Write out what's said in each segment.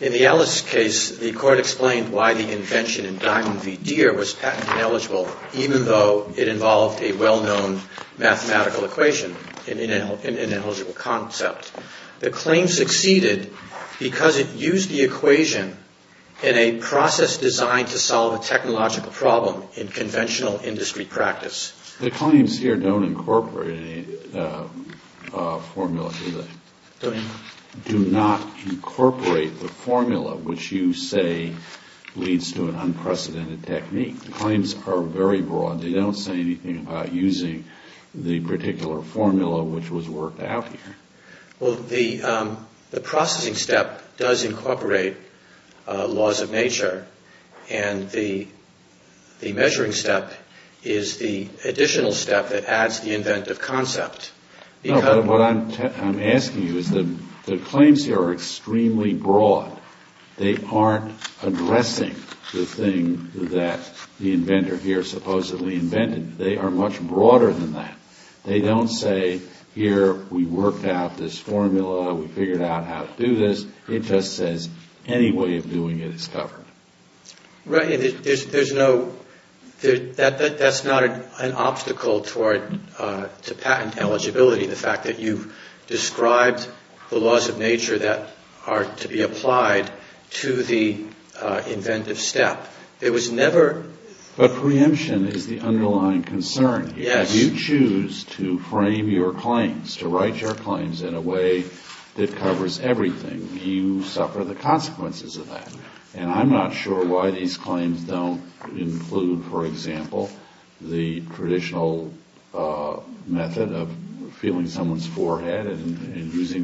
In the Ellis case, the court explained why the invention in Diamond v. Deere was patent eligible even though it involved a well-known mathematical equation, an ineligible concept. The claim succeeded because it used the equation in a process designed to solve a technological problem in conventional industry practice. The claims here don't incorporate any formula, do they? Don't incorporate. Do not incorporate the formula which you say leads to an unprecedented technique. The claims are very broad. They don't say anything about using the particular formula which was worked out here. Well, the processing step does incorporate laws of nature and the measuring step is the additional step that adds the inventive concept. No, but what I'm asking you is that the claims here are extremely broad. They aren't addressing the thing that the inventor here supposedly invented. They are much broader than that. They don't say here we worked out this formula, we figured out how to do this. It just says any way of doing it is covered. There's no, that's not an obstacle to patent eligibility, the fact that you've described the laws of nature that are to be applied to the inventive step. It was never... But preemption is the underlying concern here. Yes. If you choose to frame your claims, to write your claims in a way that covers everything, you suffer the consequences of that. And I'm not sure why these claims don't include, for example, using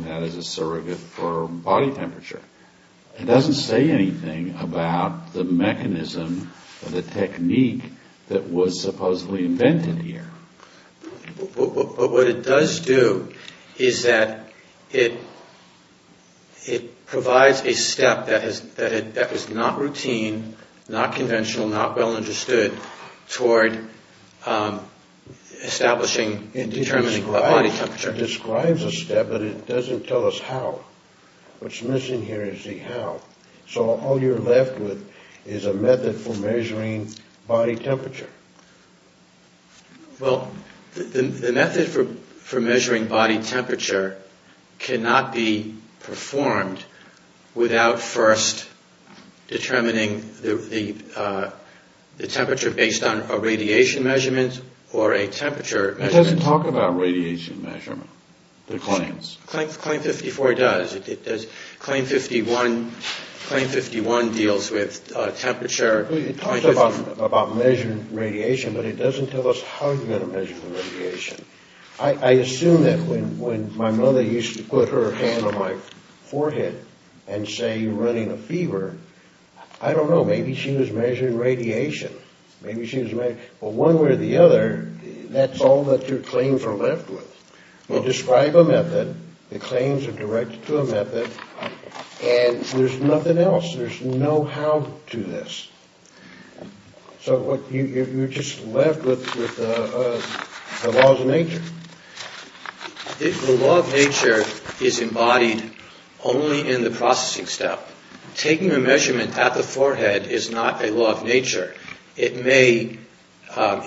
that as a surrogate for body temperature. It doesn't say anything about the mechanism or the technique that was supposedly invented here. But what it does do is that it provides a step that is not routine, not conventional, not well understood toward establishing and determining body temperature. It describes a step, but it doesn't tell us how. What's missing here is the how. So all you're left with is a method for measuring body temperature. Well, the method for measuring body temperature cannot be performed without first determining the temperature based on a radiation measurement or a temperature measurement. It doesn't talk about radiation measurement, the claims. Claim 54 does. Claim 51 deals with temperature. It talks about measuring radiation, but it doesn't tell us how you're going to measure the radiation. I assume that when my mother used to put her hand on my forehead and say, you're running a fever, I don't know, maybe she was measuring radiation. Maybe she was measuring, well, one way or the other, that's all that your claims are left with. You describe a method, the claims are directed to a method, and there's nothing else. There's no how to this. So what you're just left with is the laws of nature. The law of nature is embodied only in the processing step. Taking a measurement at the forehead is not a law of nature. It may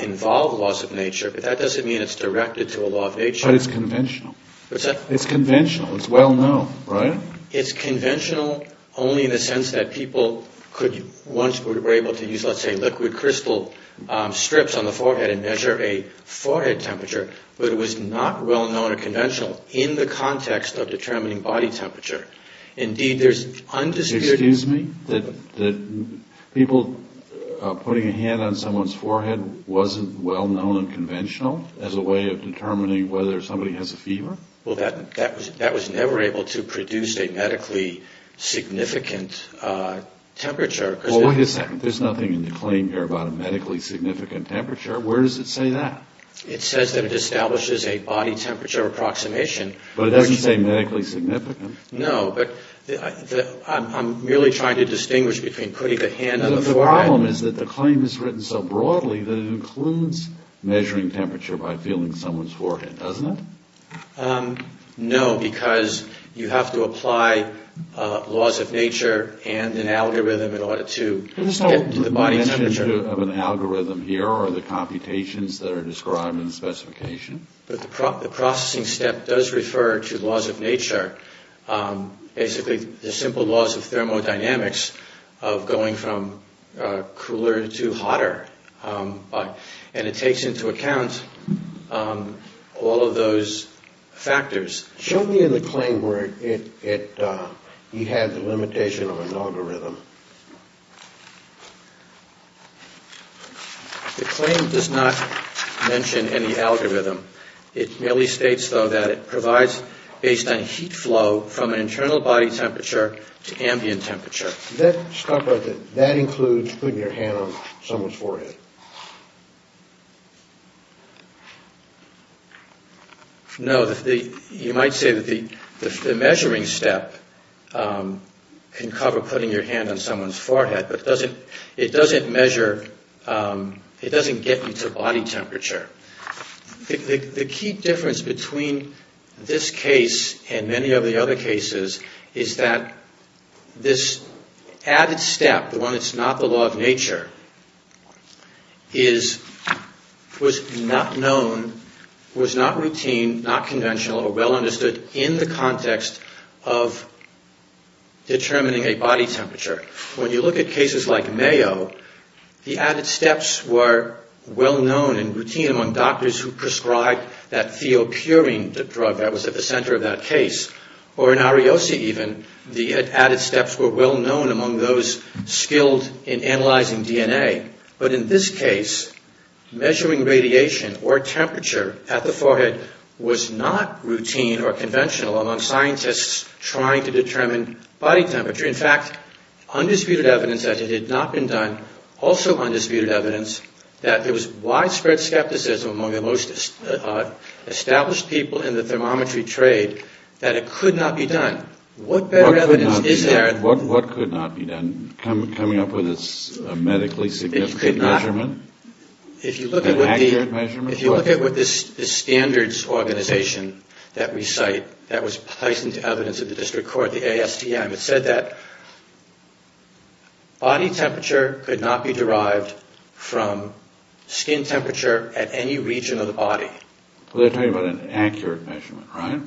involve laws of nature, but that doesn't mean it's directed to a law of nature. But it's conventional. It's conventional. It's well known, right? It's conventional only in the sense that people could, once were able to use, let's say, liquid crystal strips on the forehead and measure a forehead temperature, but it was not well known or conventional in the context of determining body temperature. Indeed, there's undisputed... Excuse me? That people putting a hand on someone's forehead wasn't well known and conventional as a way of determining whether somebody has a fever? Well, that was never able to produce a medically significant temperature. Well, wait a second. There's nothing in the claim here about a medically significant temperature. Where does it say that? It says that it establishes a body temperature approximation. But it doesn't say medically significant. No, but I'm merely trying to distinguish between putting the hand on the forehead... The problem is that the claim is written so broadly that it includes measuring temperature by feeling someone's forehead, doesn't it? No, because you have to apply laws of nature and an algorithm in order to get to the body temperature. There's no mention of an algorithm here or the computations that are described in the specification. But the processing step does refer to laws of nature. Basically, the simple laws of thermodynamics of going from cooler to hotter. And it takes into account all of those factors. Show me in the claim where you had the limitation of an algorithm. The claim does not mention any algorithm. It merely states, though, that it provides based on heat flow from an internal body temperature to ambient temperature. That stuff, that includes putting your hand on someone's forehead? No, you might say that the measuring step can cover putting your hand on someone's forehead. But it doesn't get you to body temperature. The key difference between this case and many of the other cases is that this added step, the one that's not the law of nature, was not known, was not routine, not conventional, or well understood in the context of determining a body temperature. When you look at cases like Mayo, the added steps were well known and routine among doctors who prescribed that theopurine drug that was at the center of that case. Or in Ariose, even, the added steps were well known among those skilled in analyzing DNA. But in this case, measuring radiation or temperature at the forehead was not routine or conventional among scientists trying to determine body temperature. In fact, undisputed evidence that it had not been done, also undisputed evidence that there was widespread skepticism among the most established people in the thermometry trade that it could not be done. What better evidence is there? What could not be done? Coming up with a medically significant measurement? An accurate measurement? If you look at what the standards organization that we cite that was placed into evidence at the district court, the ASTM, it said that body temperature could not be derived from skin temperature at any region of the body. They're talking about an accurate measurement, right?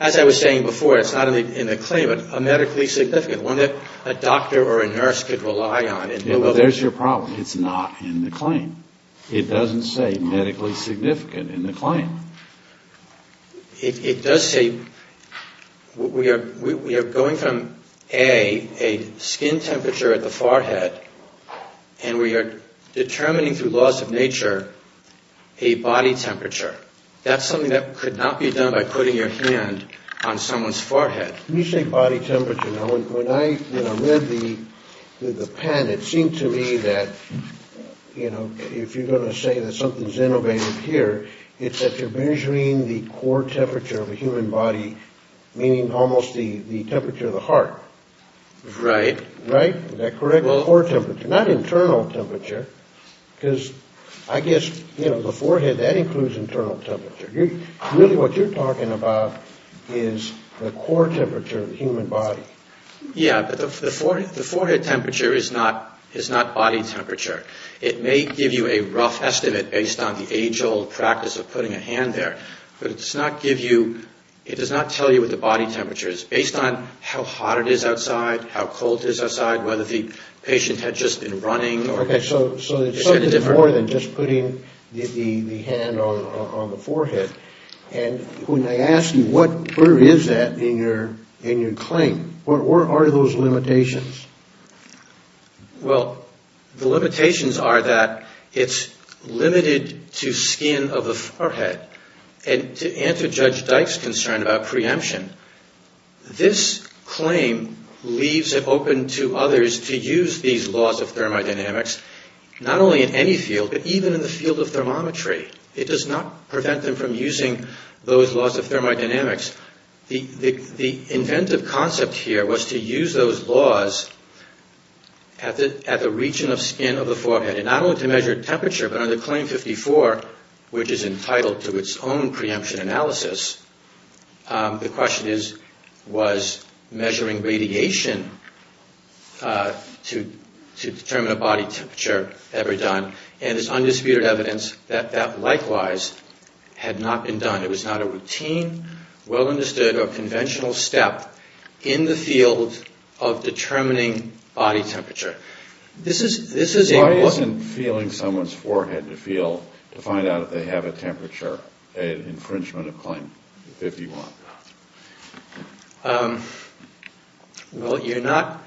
As I was saying before, it's not in the claim. A medically significant, one that a doctor or a nurse could rely on. Well, there's your problem. It's not in the claim. It doesn't say medically significant in the claim. It does say we are going from, A, a skin temperature at the forehead, and we are determining through laws of nature a body temperature. That's something that could not be done by putting your hand on someone's forehead. When you say body temperature, when I read the pen, it seemed to me that if you're going to say that something's innovative here, it's that you're measuring the core temperature of a human body, meaning almost the temperature of the heart. Right. Right? Is that correct? Well, the core temperature, not internal temperature, because I guess, you know, the forehead, that includes internal temperature. Really what you're talking about is the core temperature of the human body. Yeah, but the forehead temperature is not body temperature. It may give you a rough estimate based on the age-old practice of putting a hand there, but it does not give you, it does not tell you what the body temperature is based on how hot it is outside, how cold it is outside, whether the patient had just been running. Okay, so it's more than just putting the hand on the forehead. And when I ask you where is that in your claim, what are those limitations? Well, the limitations are that it's limited to skin of the forehead. And to answer Judge Dyke's concern about preemption, this claim leaves it open to others to use these laws of thermodynamics, not only in any field, but even in the field of thermometry. It does not prevent them from using those laws of thermodynamics. The inventive concept here was to use those laws at the region of skin of the forehead, and not only to measure temperature, but under Claim 54, which is entitled to its own preemption analysis, the question is, was measuring radiation to determine a body temperature ever done? And there's undisputed evidence that that likewise had not been done. It was not a routine, well-understood, or conventional step in the field of determining body temperature. This is a... Well, you're not...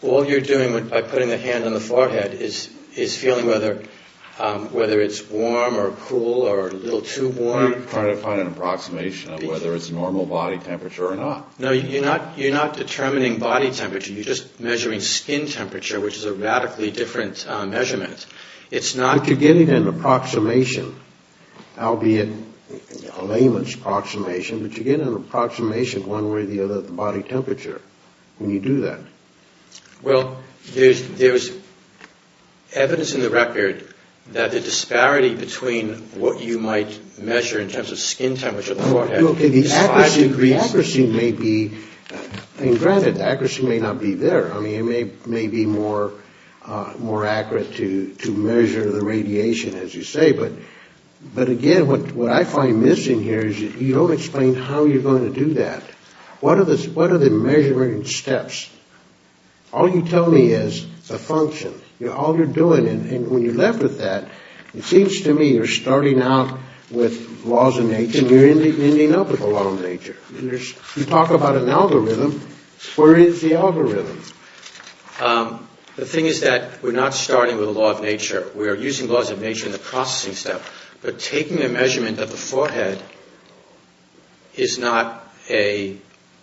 All you're doing by putting the hand on the forehead is feeling whether it's warm or cool or a little too warm. I'm trying to find an approximation of whether it's normal body temperature or not. No, you're not determining body temperature. You're just measuring skin temperature, which is a radically different measurement. But you're getting an approximation, albeit a lamest approximation, but you're getting an approximation of one way or the other of the body temperature when you do that. Well, there's evidence in the record that the disparity between what you might measure in terms of skin temperature of the forehead... And granted, accuracy may not be there. I mean, it may be more accurate to measure the radiation, as you say, but again, what I find missing here is you don't explain how you're going to do that. What are the measuring steps? All you tell me is a function. All you're doing, and when you're left with that, it seems to me you're starting out with laws of nature and you're ending up with a law of nature. You talk about an algorithm. Where is the algorithm? The thing is that we're not starting with a law of nature. We are using laws of nature in the processing step. But taking a measurement of the forehead is not a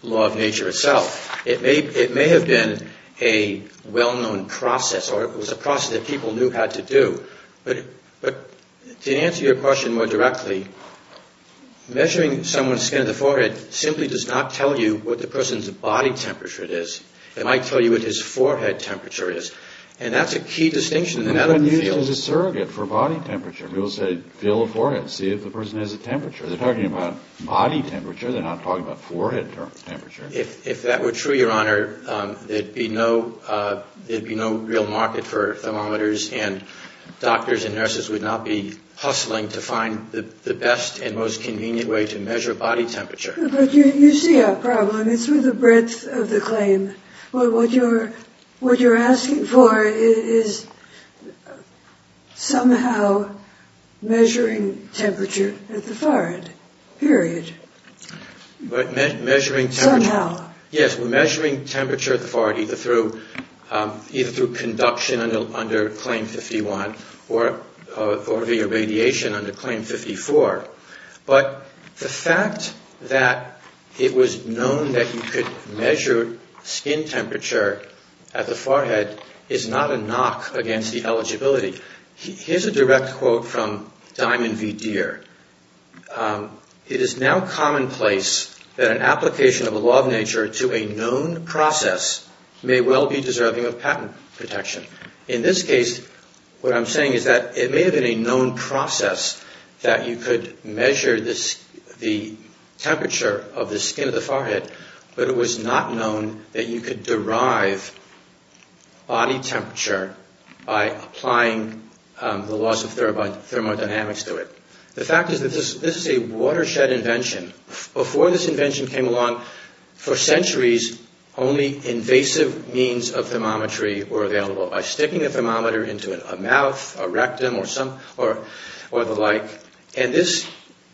law of nature itself. It may have been a well-known process or it was a process that people knew how to do. But to answer your question more directly, measuring someone's skin of the forehead simply does not tell you what the person's body temperature is. It might tell you what his forehead temperature is. And that's a key distinction in the medical field. It's a surrogate for body temperature. People say, feel the forehead, see if the person has a temperature. They're talking about body temperature. They're not talking about forehead temperature. If that were true, Your Honor, there'd be no real market for thermometers and doctors and nurses would not be hustling to find the best and most convenient way to measure body temperature. But you see our problem. It's with the breadth of the claim. What you're asking for is somehow measuring temperature at the forehead, period. But measuring temperature at the forehead either through conduction under Claim 51 or via radiation under Claim 54. But the fact that it was known that you could measure skin temperature at the forehead is not a knock against the eligibility. Here's a direct quote from Diamond V. Deere. It is now commonplace that an application of a law of nature to a known process may well be deserving of patent protection. In this case, what I'm saying is that it may have been a known process that you could measure the temperature of the skin of the forehead, but it was not known that you could derive body temperature by applying the laws of thermodynamics to it. The fact is that this is a watershed invention. Before this invention came along, for centuries, only invasive means of thermometry were available by sticking a thermometer into a mouth, a rectum, or the like. And this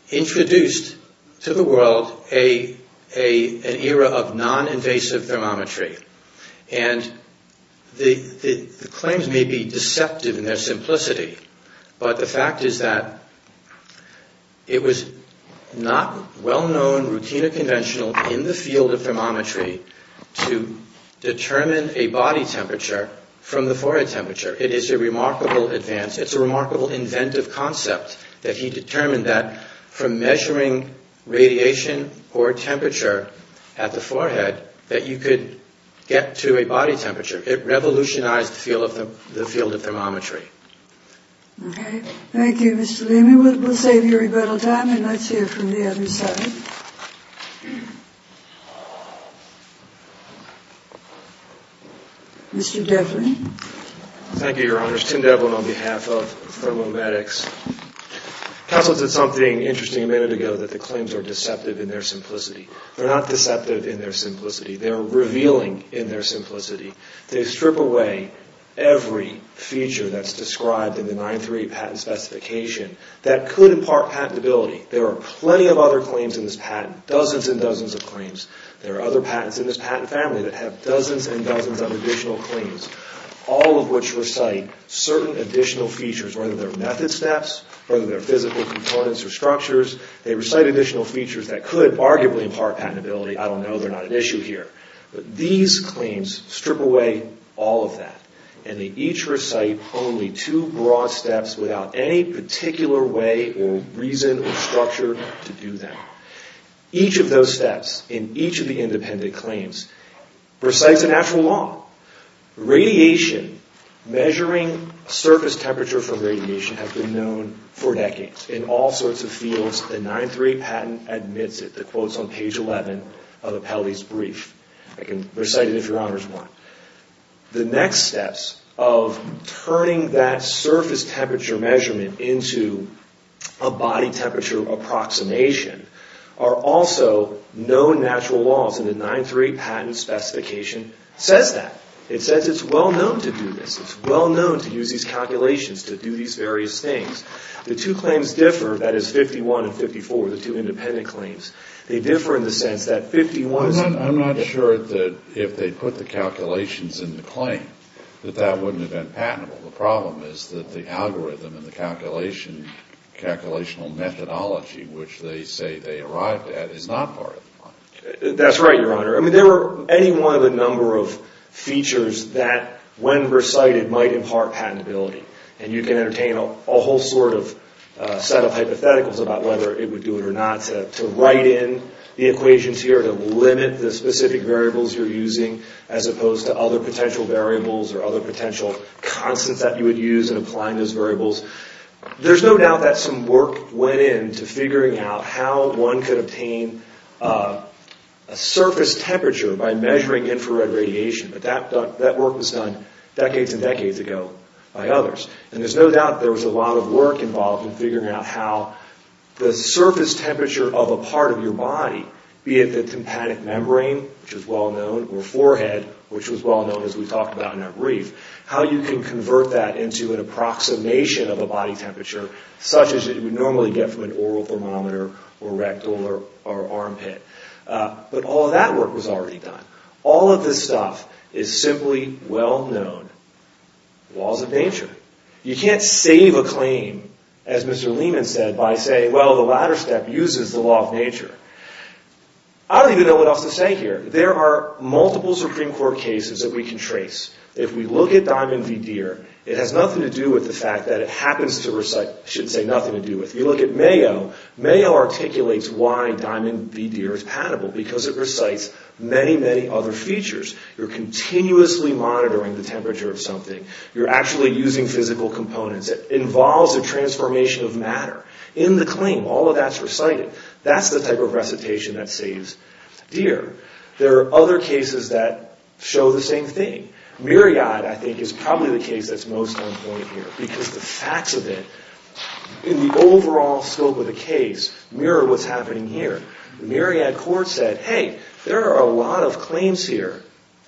introduced to the world an era of non-invasive thermometry. And the claims may be deceptive in their simplicity, but the fact is that it was not well-known, routine, or conventional in the field of thermometry to determine a body temperature from the forehead temperature. It is a remarkable advance. It's a remarkable inventive concept that he determined that from measuring radiation or temperature at the forehead that you could get to a body temperature. It revolutionized the field of thermometry. Okay. Thank you, Mr. Leamy. We'll save your rebuttal time, and let's hear from the other side. Mr. Devlin. Thank you, Your Honors. Tim Devlin on behalf of Thermomedics. Counsel did something interesting a minute ago that the claims are deceptive in their simplicity. They're not deceptive in their simplicity. They're revealing in their simplicity. They strip away every feature that's described in the 938 patent specification that could impart patentability. There are plenty of other claims in this patent, dozens and dozens of claims. There are other patents in this patent family that have dozens and dozens of additional claims, all of which recite certain additional features, whether they're method steps, whether they're physical components or structures. They recite additional features that could arguably impart patentability. I don't know. They're not an issue here. But these claims strip away all of that, and they each recite only two broad steps without any particular way or reason or structure to do that. Each of those steps in each of the independent claims recites a natural law. Radiation, measuring surface temperature from radiation, has been known for decades in all sorts of fields. The 938 patent admits it. The quote's on page 11 of Apelli's brief. I can recite it if your honors want. The next steps of turning that surface temperature measurement into a body temperature approximation are also known natural laws, and the 938 patent specification says that. It says it's well known to do this. The two claims differ. That is 51 and 54, the two independent claims. They differ in the sense that 51 is- I'm not sure that if they put the calculations in the claim, that that wouldn't have been patentable. The problem is that the algorithm and the calculation, the calculational methodology which they say they arrived at is not part of it. That's right, Your Honor. I mean, there are any one of a number of features that, when recited, might impart patentability. And you can entertain a whole sort of set of hypotheticals about whether it would do it or not to write in the equations here to limit the specific variables you're using as opposed to other potential variables or other potential constants that you would use in applying those variables. There's no doubt that some work went into figuring out how one could obtain a surface temperature by measuring infrared radiation. But that work was done decades and decades ago by others. And there's no doubt there was a lot of work involved in figuring out how the surface temperature of a part of your body, be it the tympanic membrane, which is well known, or forehead, which was well known as we talked about in that brief, how you can convert that into an approximation of a body temperature such as you would normally get from an oral thermometer or rectal or armpit. But all of that work was already done. All of this stuff is simply well known laws of nature. You can't save a claim, as Mr. Lehman said, by saying, well, the latter step uses the law of nature. I don't even know what else to say here. There are multiple Supreme Court cases that we can trace. If we look at Diamond v. Deere, it has nothing to do with the fact that it happens to recite. I shouldn't say nothing to do with. If you look at Mayo, Mayo articulates why Diamond v. Deere is patable because it recites many, many other features. You're continuously monitoring the temperature of something. You're actually using physical components. It involves a transformation of matter in the claim. All of that's recited. That's the type of recitation that saves Deere. There are other cases that show the same thing. Myriad, I think, is probably the case that's most on point here because the facts of it, in the overall scope of the case, mirror what's happening here. Myriad Court said, hey, there are a lot of claims here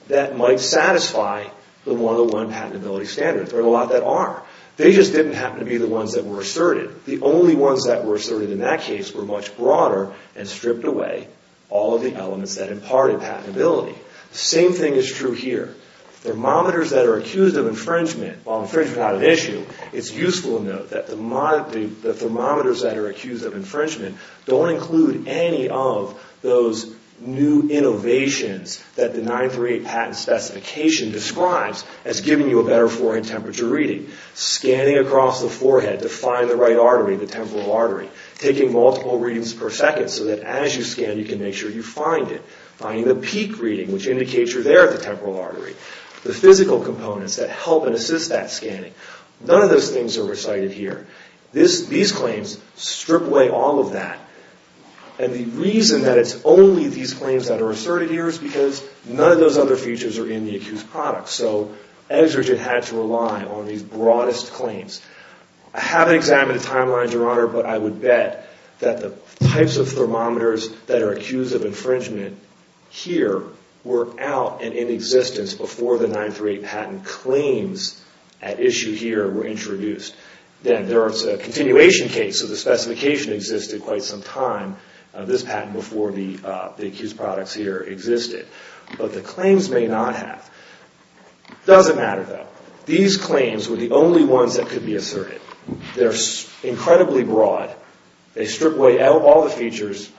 that might satisfy the 101 patentability standards. There are a lot that are. They just didn't happen to be the ones that were asserted. The only ones that were asserted in that case were much broader and stripped away all of the elements that imparted patentability. The same thing is true here. Thermometers that are accused of infringement, while infringement's not an issue, it's useful to note that the thermometers that are accused of infringement don't include any of those new innovations that the 938 patent specification describes as giving you a better forehead temperature reading. Scanning across the forehead to find the right artery, the temporal artery. Taking multiple readings per second so that as you scan you can make sure you find it. Finding the peak reading which indicates you're there at the temporal artery. The physical components that help and assist that scanning. None of those things are recited here. These claims strip away all of that. And the reason that it's only these claims that are asserted here is because none of those other features are in the accused product. So, Exeget had to rely on these broadest claims. I haven't examined the timelines, Your Honor, but I would bet that the types of thermometers that are accused of infringement here were out and in existence before the 938 patent claims at issue here were introduced. Then there's a continuation case, so the specification existed quite some time, this patent, before the accused products here existed. But the claims may not have. Doesn't matter, though. These claims were the only ones that could be asserted. They're incredibly broad. They strip away all the features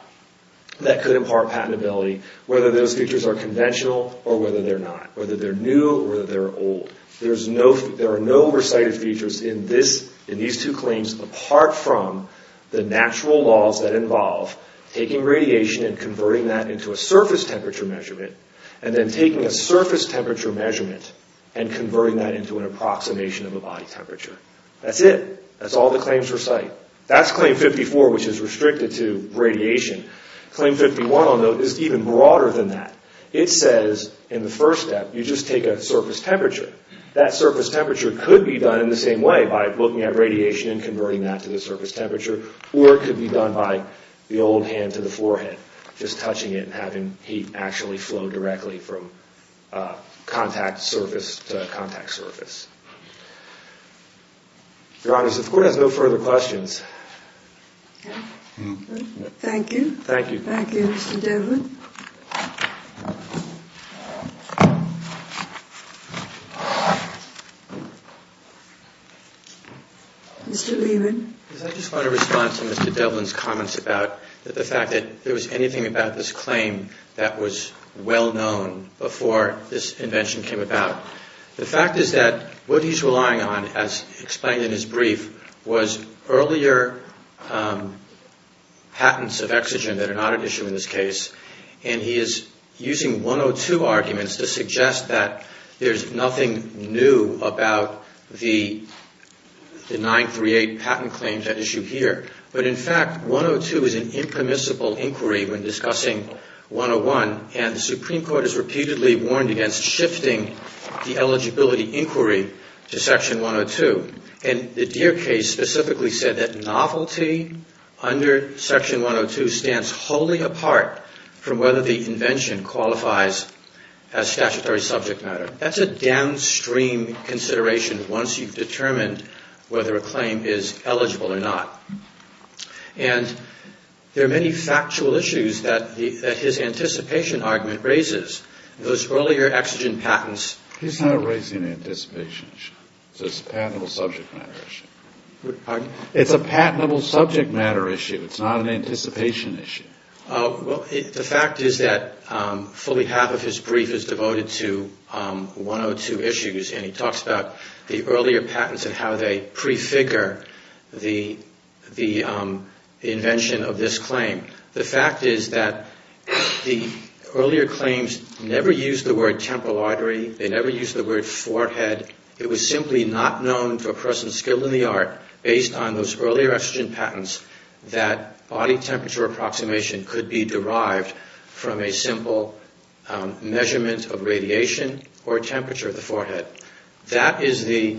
that could impart patentability. Whether those features are conventional or whether they're not. Whether they're new or whether they're old. There are no recited features in these two claims apart from the natural laws that involve taking radiation and converting that into a surface temperature measurement, and then taking a surface temperature measurement and converting that into an approximation of a body temperature. That's it. That's all the claims recite. That's Claim 54, which is restricted to radiation. Claim 51, I'll note, is even broader than that. It says, in the first step, you just take a surface temperature. That surface temperature could be done in the same way, by looking at radiation and converting that to the surface temperature, or it could be done by the old hand to the forehead. Just touching it and having heat actually flow directly from contact surface to contact surface. Your Honor, the Court has no further questions. Okay. Thank you. Thank you, Mr. Devlin. Mr. Lehman. I just want to respond to Mr. Devlin's comments about the fact that there was anything about this claim that was well known before this invention came about. The fact is that what he's relying on, as explained in his brief, was earlier patents of exogen that are not at issue in this case, and he is using 102 arguments to suggest that there's nothing new about the 938 patent claims at issue here. But, in fact, 102 is an impermissible inquiry when discussing 101, and the Supreme Court has repeatedly warned against shifting the eligibility inquiry to Section 102. And the Deere case specifically said that novelty under Section 102 stands wholly apart from whether the invention qualifies as statutory subject matter. That's a downstream consideration once you've determined whether a claim is eligible or not. And there are many factual issues that his anticipation argument raises. Those earlier exogen patents... He's not raising an anticipation issue. It's a patentable subject matter issue. It's a patentable subject matter issue. It's not an anticipation issue. The fact is that fully half of his brief is devoted to 102 issues, and he talks about the earlier patents and how they prefigure the invention of this claim. The fact is that the earlier claims never used the word temporal artery. They never used the word forehead. It was simply not known to a person skilled in the art, based on those earlier exogen patents, that body temperature approximation could be derived from a simple measurement of radiation or temperature of the forehead. That is the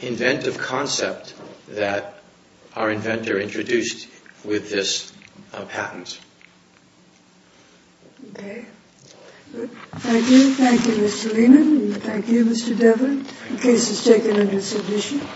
inventive concept that our inventor introduced with this patent. Okay. Thank you. Thank you, Mr. Lehman. Thank you, Mr. Devlin. The case is taken under submission.